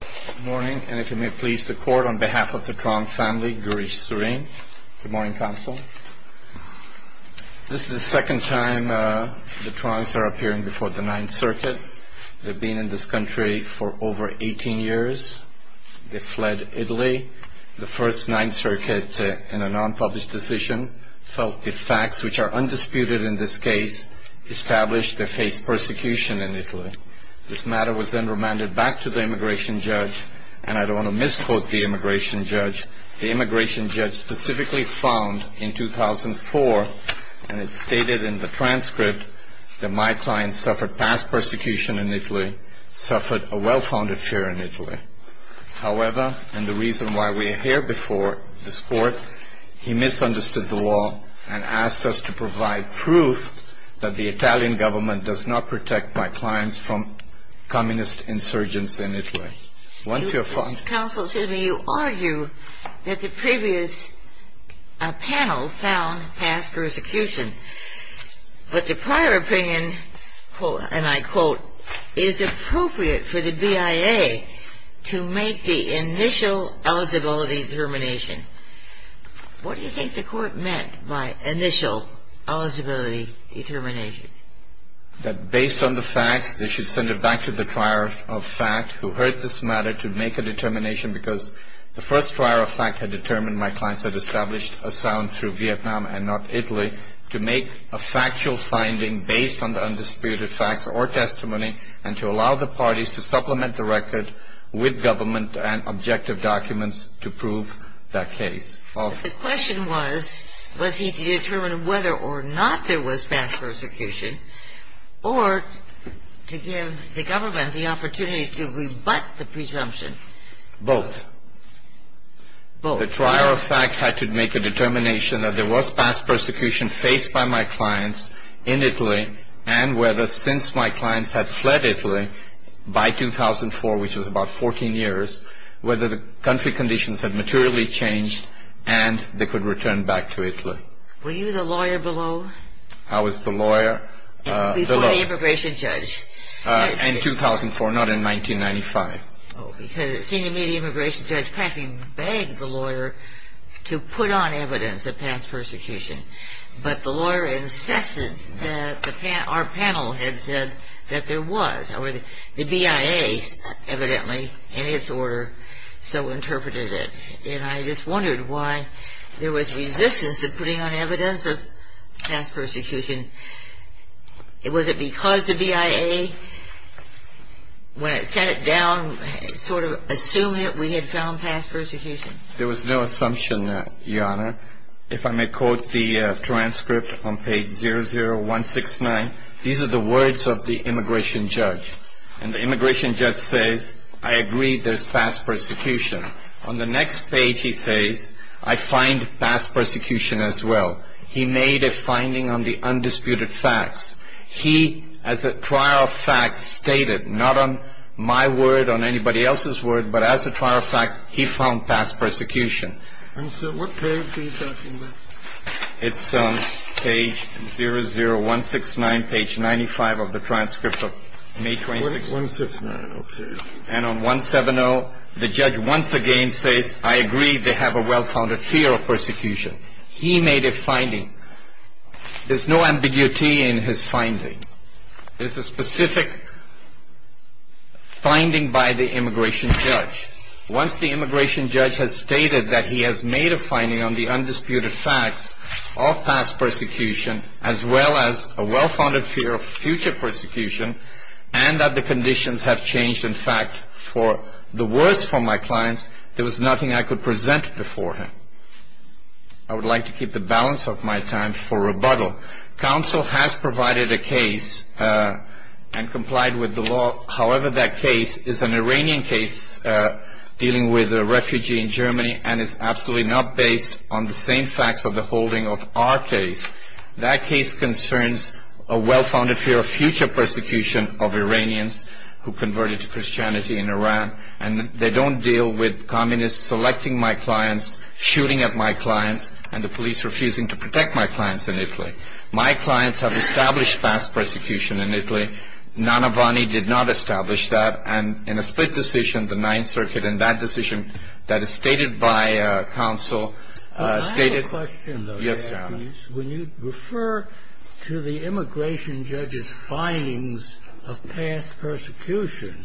Good morning, and if you may please the court, on behalf of the Trong family, Gurish Surin. Good morning, counsel. This is the second time the Trongs are appearing before the Ninth Circuit. They've been in this country for over 18 years. They fled Italy. The first Ninth Circuit, in a non-published decision, felt the facts, which are undisputed in this case, established they faced persecution in Italy. This matter was then remanded back to the immigration judge, and I don't want to misquote the immigration judge. The immigration judge specifically found in 2004, and it's stated in the transcript, that my clients suffered past persecution in Italy, suffered a well-founded fear in Italy. However, and the reason why we're here before this court, he misunderstood the law and asked us to provide proof that the Italian government does not protect my clients from communist insurgence in Italy. Once you're fine. Counsel, excuse me, you argue that the previous panel found past persecution, but the prior opinion, and I quote, is appropriate for the BIA to make the initial eligibility determination. What do you think the court meant by initial eligibility determination? That based on the facts, they should send it back to the trier of fact, who heard this matter to make a determination because the first trier of fact had determined my clients had established asylum through Vietnam and not Italy, to make a factual finding based on the undisputed facts or testimony, and to allow the parties to supplement the record with government and objective documents to prove that case. The question was, was he determined whether or not there was past persecution, or to give the government the opportunity to rebut the presumption? Both. Both. The trier of fact had to make a determination that there was past persecution faced by my clients in Italy, and whether since my clients had fled Italy by 2004, which was about 14 years, whether the country conditions had materially changed, and they could return back to Italy. Were you the lawyer below? I was the lawyer. Before the immigration judge. In 2004, not in 1995. Because it seemed to me the immigration judge practically begged the lawyer to put on evidence of past persecution, but the lawyer insisted that our panel had said that there was. The BIA evidently, in its order, so interpreted it. And I just wondered why there was resistance to putting on evidence of past persecution. Was it because the BIA, when it sat it down, sort of assumed that we had found past persecution? There was no assumption, Your Honor. If I may quote the transcript on page 00169, these are the words of the immigration judge. And the immigration judge says, I agree there's past persecution. On the next page he says, I find past persecution as well. He made a finding on the undisputed facts. He, as a trier of fact, stated, not on my word, on anybody else's word, but as a trier of fact, he found past persecution. And, sir, what page are you talking about? It's page 00169, page 95 of the transcript of May 26th. 169, okay. And on 170, the judge once again says, I agree they have a well-founded fear of persecution. He made a finding. There's no ambiguity in his finding. It's a specific finding by the immigration judge. Once the immigration judge has stated that he has made a finding on the undisputed facts of past persecution, as well as a well-founded fear of future persecution, and that the conditions have changed, in fact, for the worse for my clients, there was nothing I could present before him. I would like to keep the balance of my time for rebuttal. Counsel has provided a case and complied with the law. However, that case is an Iranian case dealing with a refugee in Germany, and it's absolutely not based on the same facts of the holding of our case. That case concerns a well-founded fear of future persecution of Iranians who converted to Christianity in Iran, and they don't deal with communists selecting my clients, shooting at my clients, and the police refusing to protect my clients in Italy. My clients have established past persecution in Italy. Nanavani did not establish that, and in a split decision, the Ninth Circuit, in that decision that is stated by counsel, stated- When you refer to the immigration judge's findings of past persecution,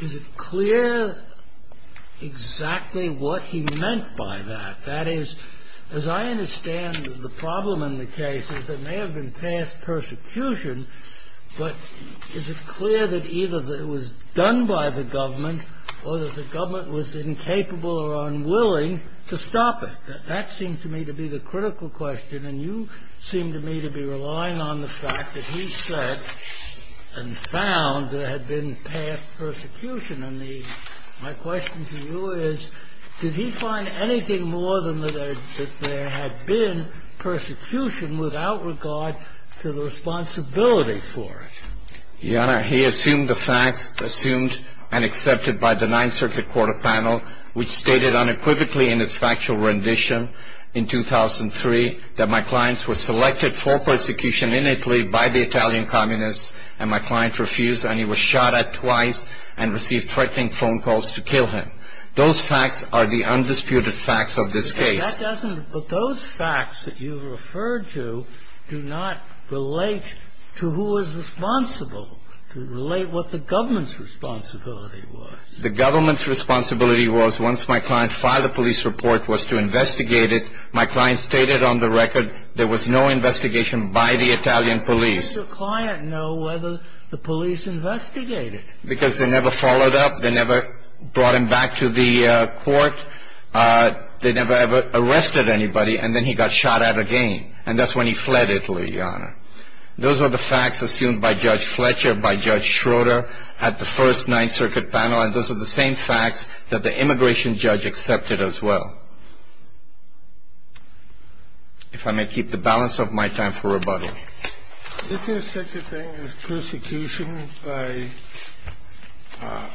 is it clear exactly what he meant by that? That is, as I understand the problem in the case is that there may have been past persecution, but is it clear that either it was done by the government or that the government was incapable or unwilling to stop it? That seems to me to be the critical question, and you seem to me to be relying on the fact that he said and found there had been past persecution. And my question to you is, did he find anything more than that there had been persecution without regard to the responsibility for it? Your Honor, he assumed the facts assumed and accepted by the Ninth Circuit Court of Panel, which stated unequivocally in its factual rendition in 2003 that my clients were selected for persecution in Italy by the Italian communists, and my client refused, and he was shot at twice and received threatening phone calls to kill him. Those facts are the undisputed facts of this case. But those facts that you referred to do not relate to who was responsible. They relate what the government's responsibility was. The government's responsibility was, once my client filed a police report, was to investigate it. My client stated on the record there was no investigation by the Italian police. How does your client know whether the police investigated? Because they never followed up. They never brought him back to the court. They never ever arrested anybody, and then he got shot at again, and that's when he fled Italy, Your Honor. Those are the facts assumed by Judge Fletcher, by Judge Schroeder at the first Ninth Circuit panel, and those are the same facts that the immigration judge accepted as well. If I may keep the balance of my time for rebuttal. Is there such a thing as persecution by a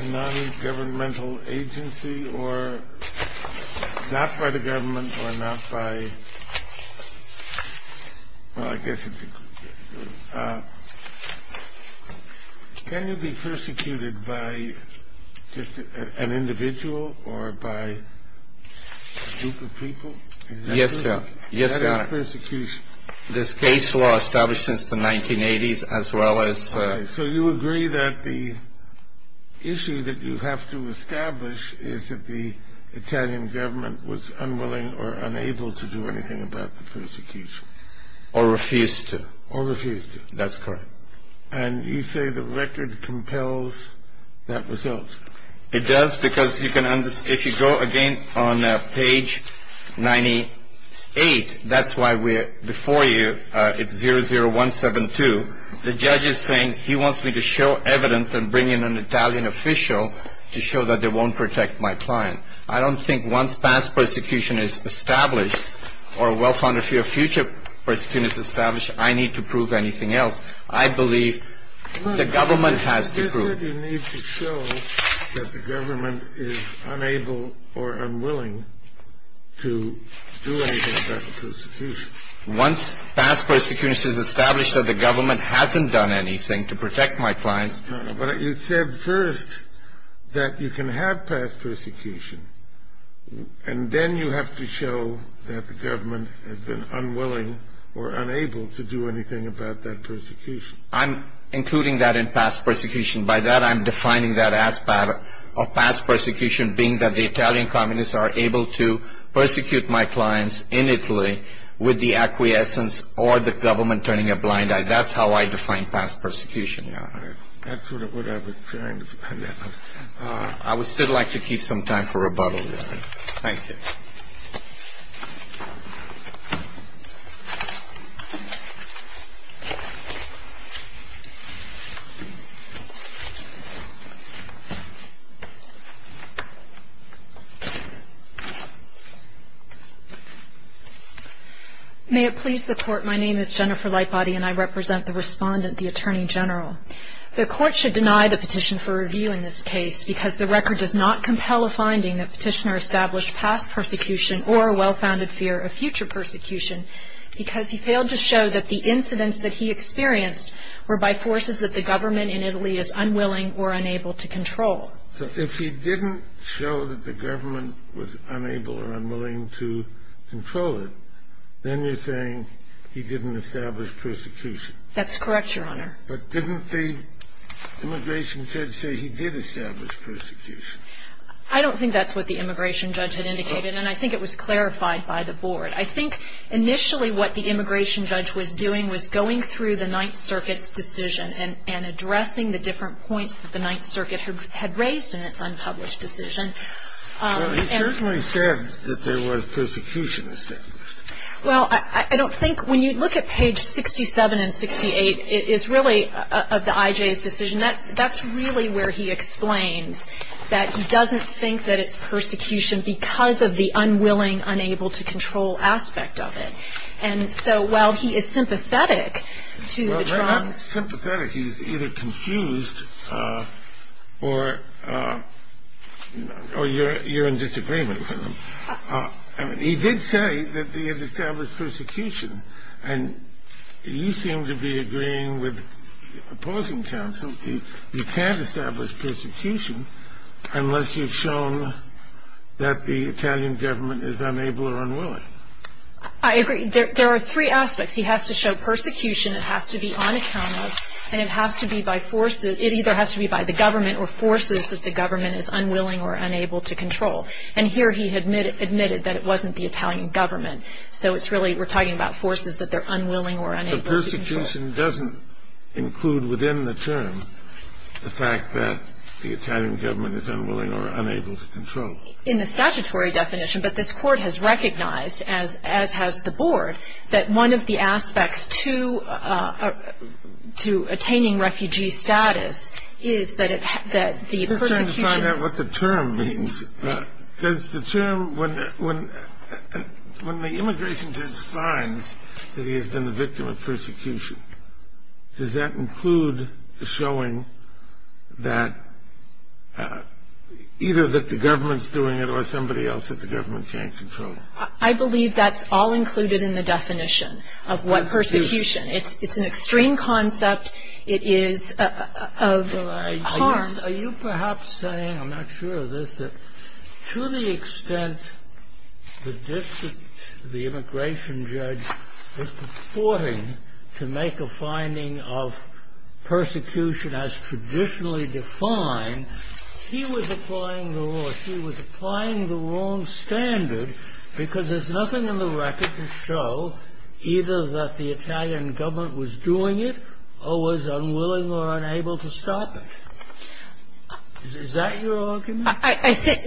nongovernmental agency or not by the government or not by? Well, I guess it's a good question. Can you be persecuted by just an individual or by a group of people? Yes, sir. This case law established since the 1980s as well as. So you agree that the issue that you have to establish is that the Italian government was unwilling or unable to do anything about the persecution. Or refused to. Or refused to. That's correct. And you say the record compels that result. It does, because you can understand. If you go again on page 98, that's why we're before you. It's 00172. The judge is saying he wants me to show evidence and bring in an Italian official to show that they won't protect my client. I don't think once past persecution is established or a well-founded fear of future persecution is established, I need to prove anything else. I believe the government has to prove. You said you need to show that the government is unable or unwilling to do anything about the persecution. Once past persecution is established that the government hasn't done anything to protect my clients. But you said first that you can have past persecution. And then you have to show that the government has been unwilling or unable to do anything about that persecution. I'm including that in past persecution. By that I'm defining that as part of past persecution being that the Italian communists are able to persecute my clients in Italy with the acquiescence or the government turning a blind eye. That's how I define past persecution. That's what I was trying to find out. I would still like to keep some time for rebuttal. Thank you. May it please the court, my name is Jennifer Lightbody and I represent the respondent, the Attorney General. The court should deny the petition for review in this case because the record does not compel a finding that petitioner established past persecution or a well-founded fear of future persecution because he failed to show that the incidents that he experienced were by forces that the government in Italy is unwilling or unable to control. So if he didn't show that the government was unable or unwilling to control it, then you're saying he didn't establish persecution. That's correct, Your Honor. But didn't the immigration judge say he did establish persecution? I don't think that's what the immigration judge had indicated and I think it was clarified by the board. I think initially what the immigration judge was doing was going through the Ninth Circuit's decision and addressing the different points that the Ninth Circuit had raised in its unpublished decision. Well, he certainly said that there was persecution established. Well, I don't think when you look at page 67 and 68, it is really of the IJ's decision. That's really where he explains that he doesn't think that it's persecution because of the unwilling, unable to control aspect of it. And so while he is sympathetic to the Trumps. Well, not sympathetic. He's either confused or you're in disagreement with him. He did say that he had established persecution. And you seem to be agreeing with opposing counsel. You can't establish persecution unless you've shown that the Italian government is unable or unwilling. I agree. There are three aspects. He has to show persecution, it has to be on account of, and it has to be by force. It either has to be by the government or forces that the government is unwilling or unable to control. And here he admitted that it wasn't the Italian government. So it's really we're talking about forces that they're unwilling or unable to control. But persecution doesn't include within the term the fact that the Italian government is unwilling or unable to control. In the statutory definition, but this Court has recognized, as has the Board, that one of the aspects to attaining refugee status is that the persecution. Let me find out what the term means. Does the term, when the immigration judge finds that he has been the victim of persecution, does that include the showing that either that the government's doing it or somebody else that the government can't control? I believe that's all included in the definition of what persecution. It's an extreme concept. It is of harm. Are you perhaps saying, I'm not sure of this, that to the extent that the immigration judge was purporting to make a finding of persecution as traditionally defined, he was applying the wrong standard because there's nothing in the record to show either that the Italian government was doing it or was unwilling or unable to stop it? Is that your argument?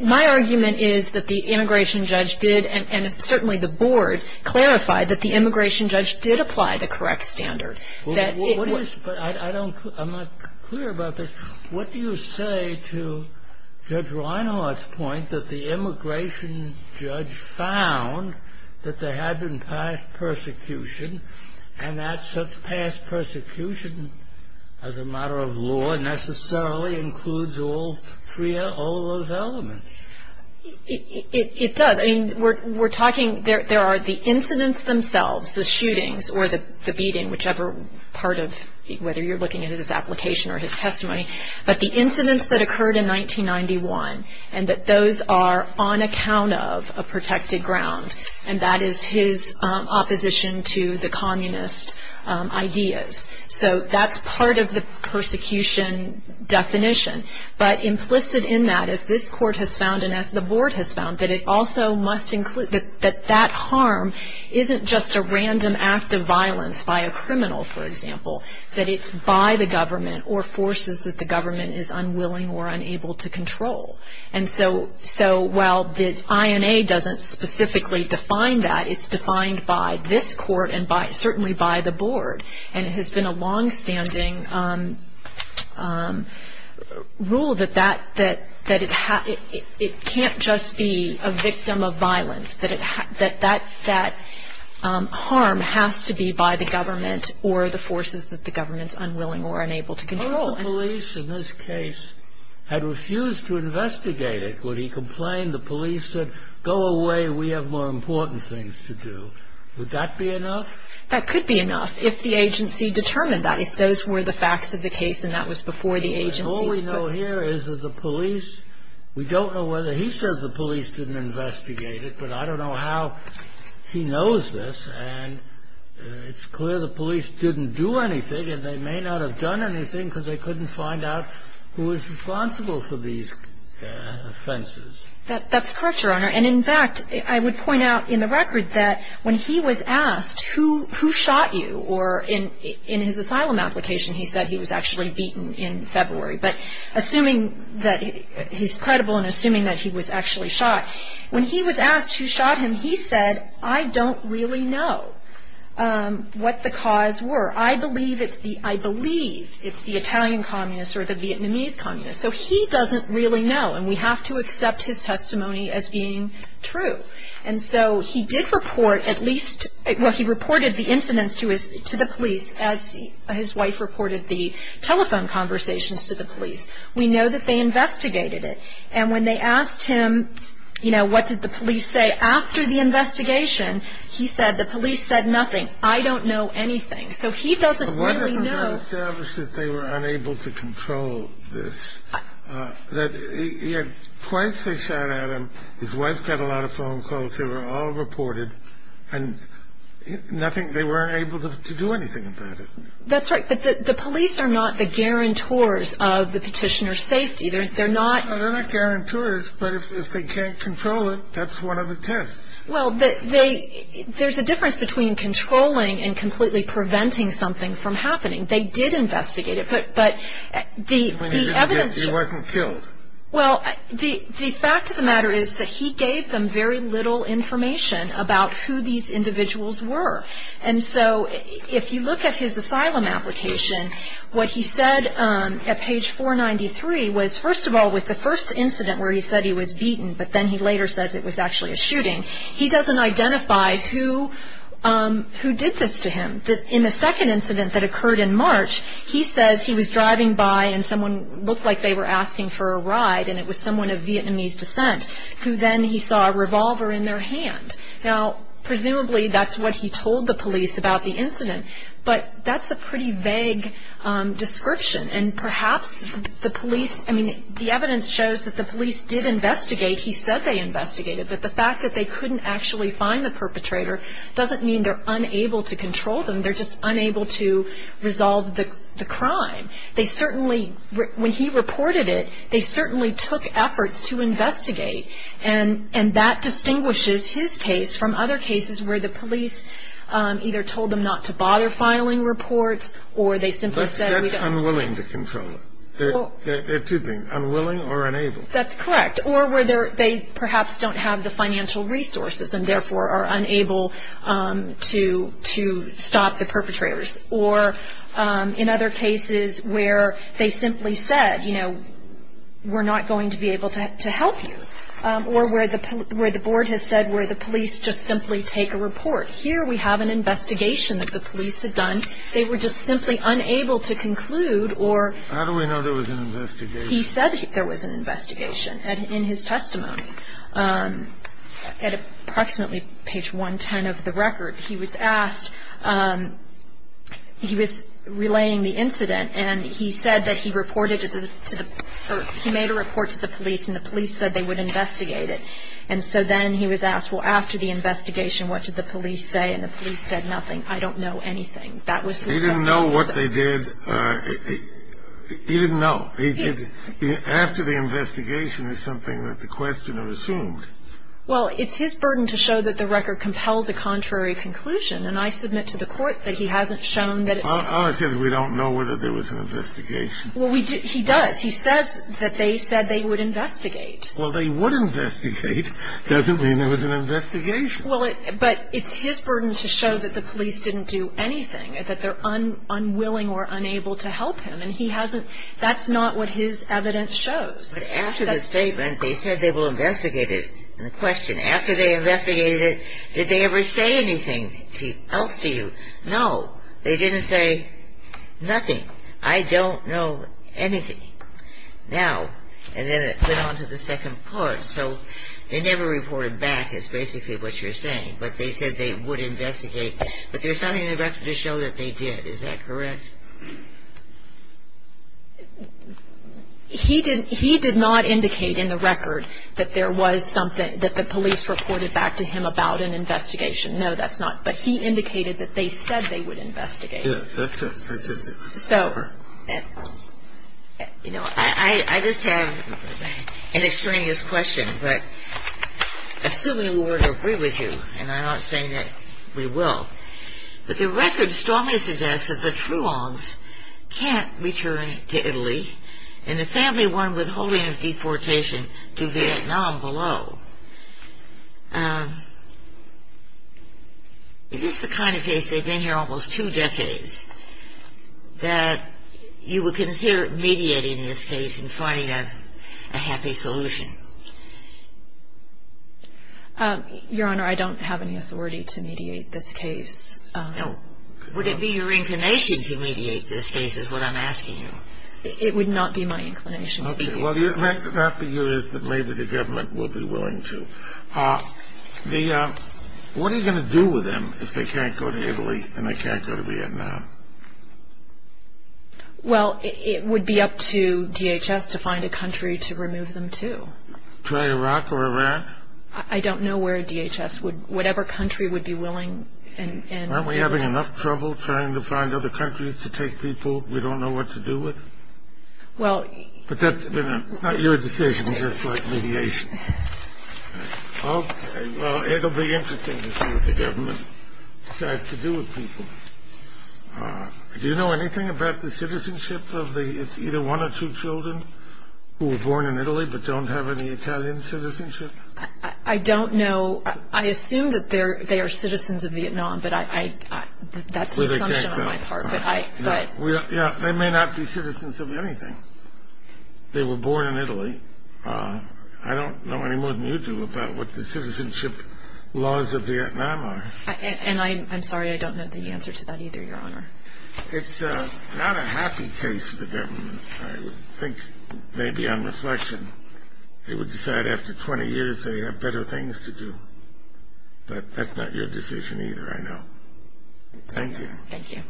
My argument is that the immigration judge did, and certainly the Board clarified that the immigration judge did apply the correct standard. But I'm not clear about this. What do you say to Judge Reinhart's point that the immigration judge found that there had been past persecution, and that such past persecution as a matter of law necessarily includes all of those elements? It does. I mean, we're talking, there are the incidents themselves, the shootings or the beating, whichever part of, whether you're looking at his application or his testimony, but the incidents that occurred in 1991 and that those are on account of a protected ground, and that is his opposition to the communist ideas. So that's part of the persecution definition. But implicit in that is this Court has found, and as the Board has found, that it also must include, that that harm isn't just a random act of violence by a criminal, for example, that it's by the government or forces that the government is unwilling or unable to control. And so while the INA doesn't specifically define that, it's defined by this Court and certainly by the Board, and it has been a longstanding rule that it can't just be a victim of violence, that that harm has to be by the government or the forces that the government is unwilling or unable to control. If the police in this case had refused to investigate it, would he complain, the police said, go away, we have more important things to do, would that be enough? That could be enough if the agency determined that, if those were the facts of the case and that was before the agency. All we know here is that the police, we don't know whether he says the police didn't investigate it, but I don't know how he knows this, and it's clear the police didn't do anything, and they may not have done anything because they couldn't find out who was responsible for these offenses. That's correct, Your Honor. And in fact, I would point out in the record that when he was asked who shot you, or in his asylum application he said he was actually beaten in February, but assuming that he's credible and assuming that he was actually shot, when he was asked who shot him, he said, I don't really know what the cause were. I believe it's the Italian communists or the Vietnamese communists. So he doesn't really know, and we have to accept his testimony as being true. And so he did report at least, well, he reported the incidents to the police as his wife reported the telephone conversations to the police. We know that they investigated it. And when they asked him, you know, what did the police say after the investigation, he said the police said nothing. I don't know anything. So he doesn't really know. But wasn't it established that they were unable to control this, that he had twice they shot at him, his wife got a lot of phone calls, they were all reported, and nothing, they weren't able to do anything about it. That's right, but the police are not the guarantors of the petitioner's safety. They're not. They're not guarantors, but if they can't control it, that's one of the tests. Well, there's a difference between controlling and completely preventing something from happening. They did investigate it, but the evidence. He wasn't killed. Well, the fact of the matter is that he gave them very little information about who these individuals were. And so if you look at his asylum application, what he said at page 493 was, first of all, with the first incident where he said he was beaten, but then he later says it was actually a shooting, he doesn't identify who did this to him. In the second incident that occurred in March, he says he was driving by and someone looked like they were asking for a ride, and it was someone of Vietnamese descent, who then he saw a revolver in their hand. Now, presumably that's what he told the police about the incident, but that's a pretty vague description, and perhaps the police, I mean, the evidence shows that the police did investigate. He said they investigated, but the fact that they couldn't actually find the perpetrator doesn't mean they're unable to control them. They're just unable to resolve the crime. They certainly, when he reported it, they certainly took efforts to investigate, and that distinguishes his case from other cases where the police either told them not to bother filing reports or they simply said we don't. But that's unwilling to control them. There are two things, unwilling or unable. That's correct, or where they perhaps don't have the financial resources and therefore are unable to stop the perpetrators, or in other cases where they simply said, you know, we're not going to be able to help you, or where the board has said where the police just simply take a report. Here we have an investigation that the police had done. They were just simply unable to conclude or he said there was an investigation. In his testimony, at approximately page 110 of the record, he was asked, he was relaying the incident, and he said that he reported to the, or he made a report to the police, and the police said they would investigate it. And so then he was asked, well, after the investigation, what did the police say? And the police said nothing. I don't know anything. That was his testimony. He didn't know what they did. He didn't know. After the investigation is something that the questioner assumed. Well, it's his burden to show that the record compels a contrary conclusion, and I submit to the Court that he hasn't shown that it's. Ours says we don't know whether there was an investigation. Well, he does. He says that they said they would investigate. Well, they would investigate doesn't mean there was an investigation. Well, but it's his burden to show that the police didn't do anything, that they're unwilling or unable to help him. That's not what his evidence shows. But after the statement, they said they will investigate it. And the question, after they investigated it, did they ever say anything else to you? No. They didn't say nothing. I don't know anything. Now, and then it went on to the second part. So they never reported back is basically what you're saying, but they said they would investigate. But there's something in the record to show that they did. Is that correct? He did not indicate in the record that there was something, that the police reported back to him about an investigation. No, that's not. But he indicated that they said they would investigate. Yes, that's correct. So, you know, I just have an extraneous question. But assuming we were to agree with you, and I'm not saying that we will, but the record strongly suggests that the Truongs can't return to Italy and the family won withholding of deportation to Vietnam below. Is this the kind of case, they've been here almost two decades, that you would consider mediating this case and finding a happy solution? Your Honor, I don't have any authority to mediate this case. No. Would it be your inclination to mediate this case is what I'm asking you? It would not be my inclination to mediate this case. Okay. Well, the argument for you is that maybe the government will be willing to. What are you going to do with them if they can't go to Italy and they can't go to Vietnam? Well, it would be up to DHS to find a country to remove them to. To Iraq or Iran? I don't know where DHS would, whatever country would be willing and... Aren't we having enough trouble trying to find other countries to take people we don't know what to do with? Well... But that's not your decision, just like mediation. Okay. Well, it'll be interesting to see what the government decides to do with people. Do you know anything about the citizenship of either one or two children who were born in Italy but don't have any Italian citizenship? I don't know. I assume that they are citizens of Vietnam, but that's an assumption on my part. Yeah, they may not be citizens of anything. They were born in Italy. I don't know any more than you do about what the citizenship laws of Vietnam are. And I'm sorry, I don't know the answer to that either, Your Honor. It's not a happy case for the government, I would think, maybe on reflection. They would decide after 20 years they have better things to do. But that's not your decision either, I know. Thank you. Thank you.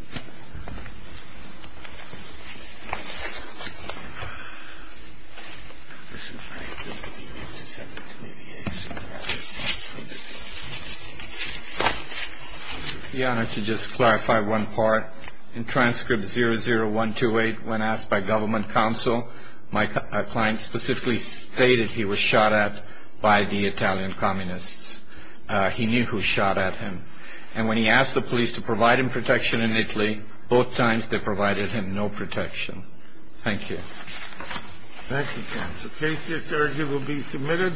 This is Frank. Your Honor, to just clarify one part. In transcript 00128, when asked by government counsel, my client specifically stated he was shot at by the Italian communists. He knew who shot at him. And when he asked the police to provide him protection in Italy, both times they provided him no protection. Thank you. Thank you, counsel. Case is adjourned. He will be submitted.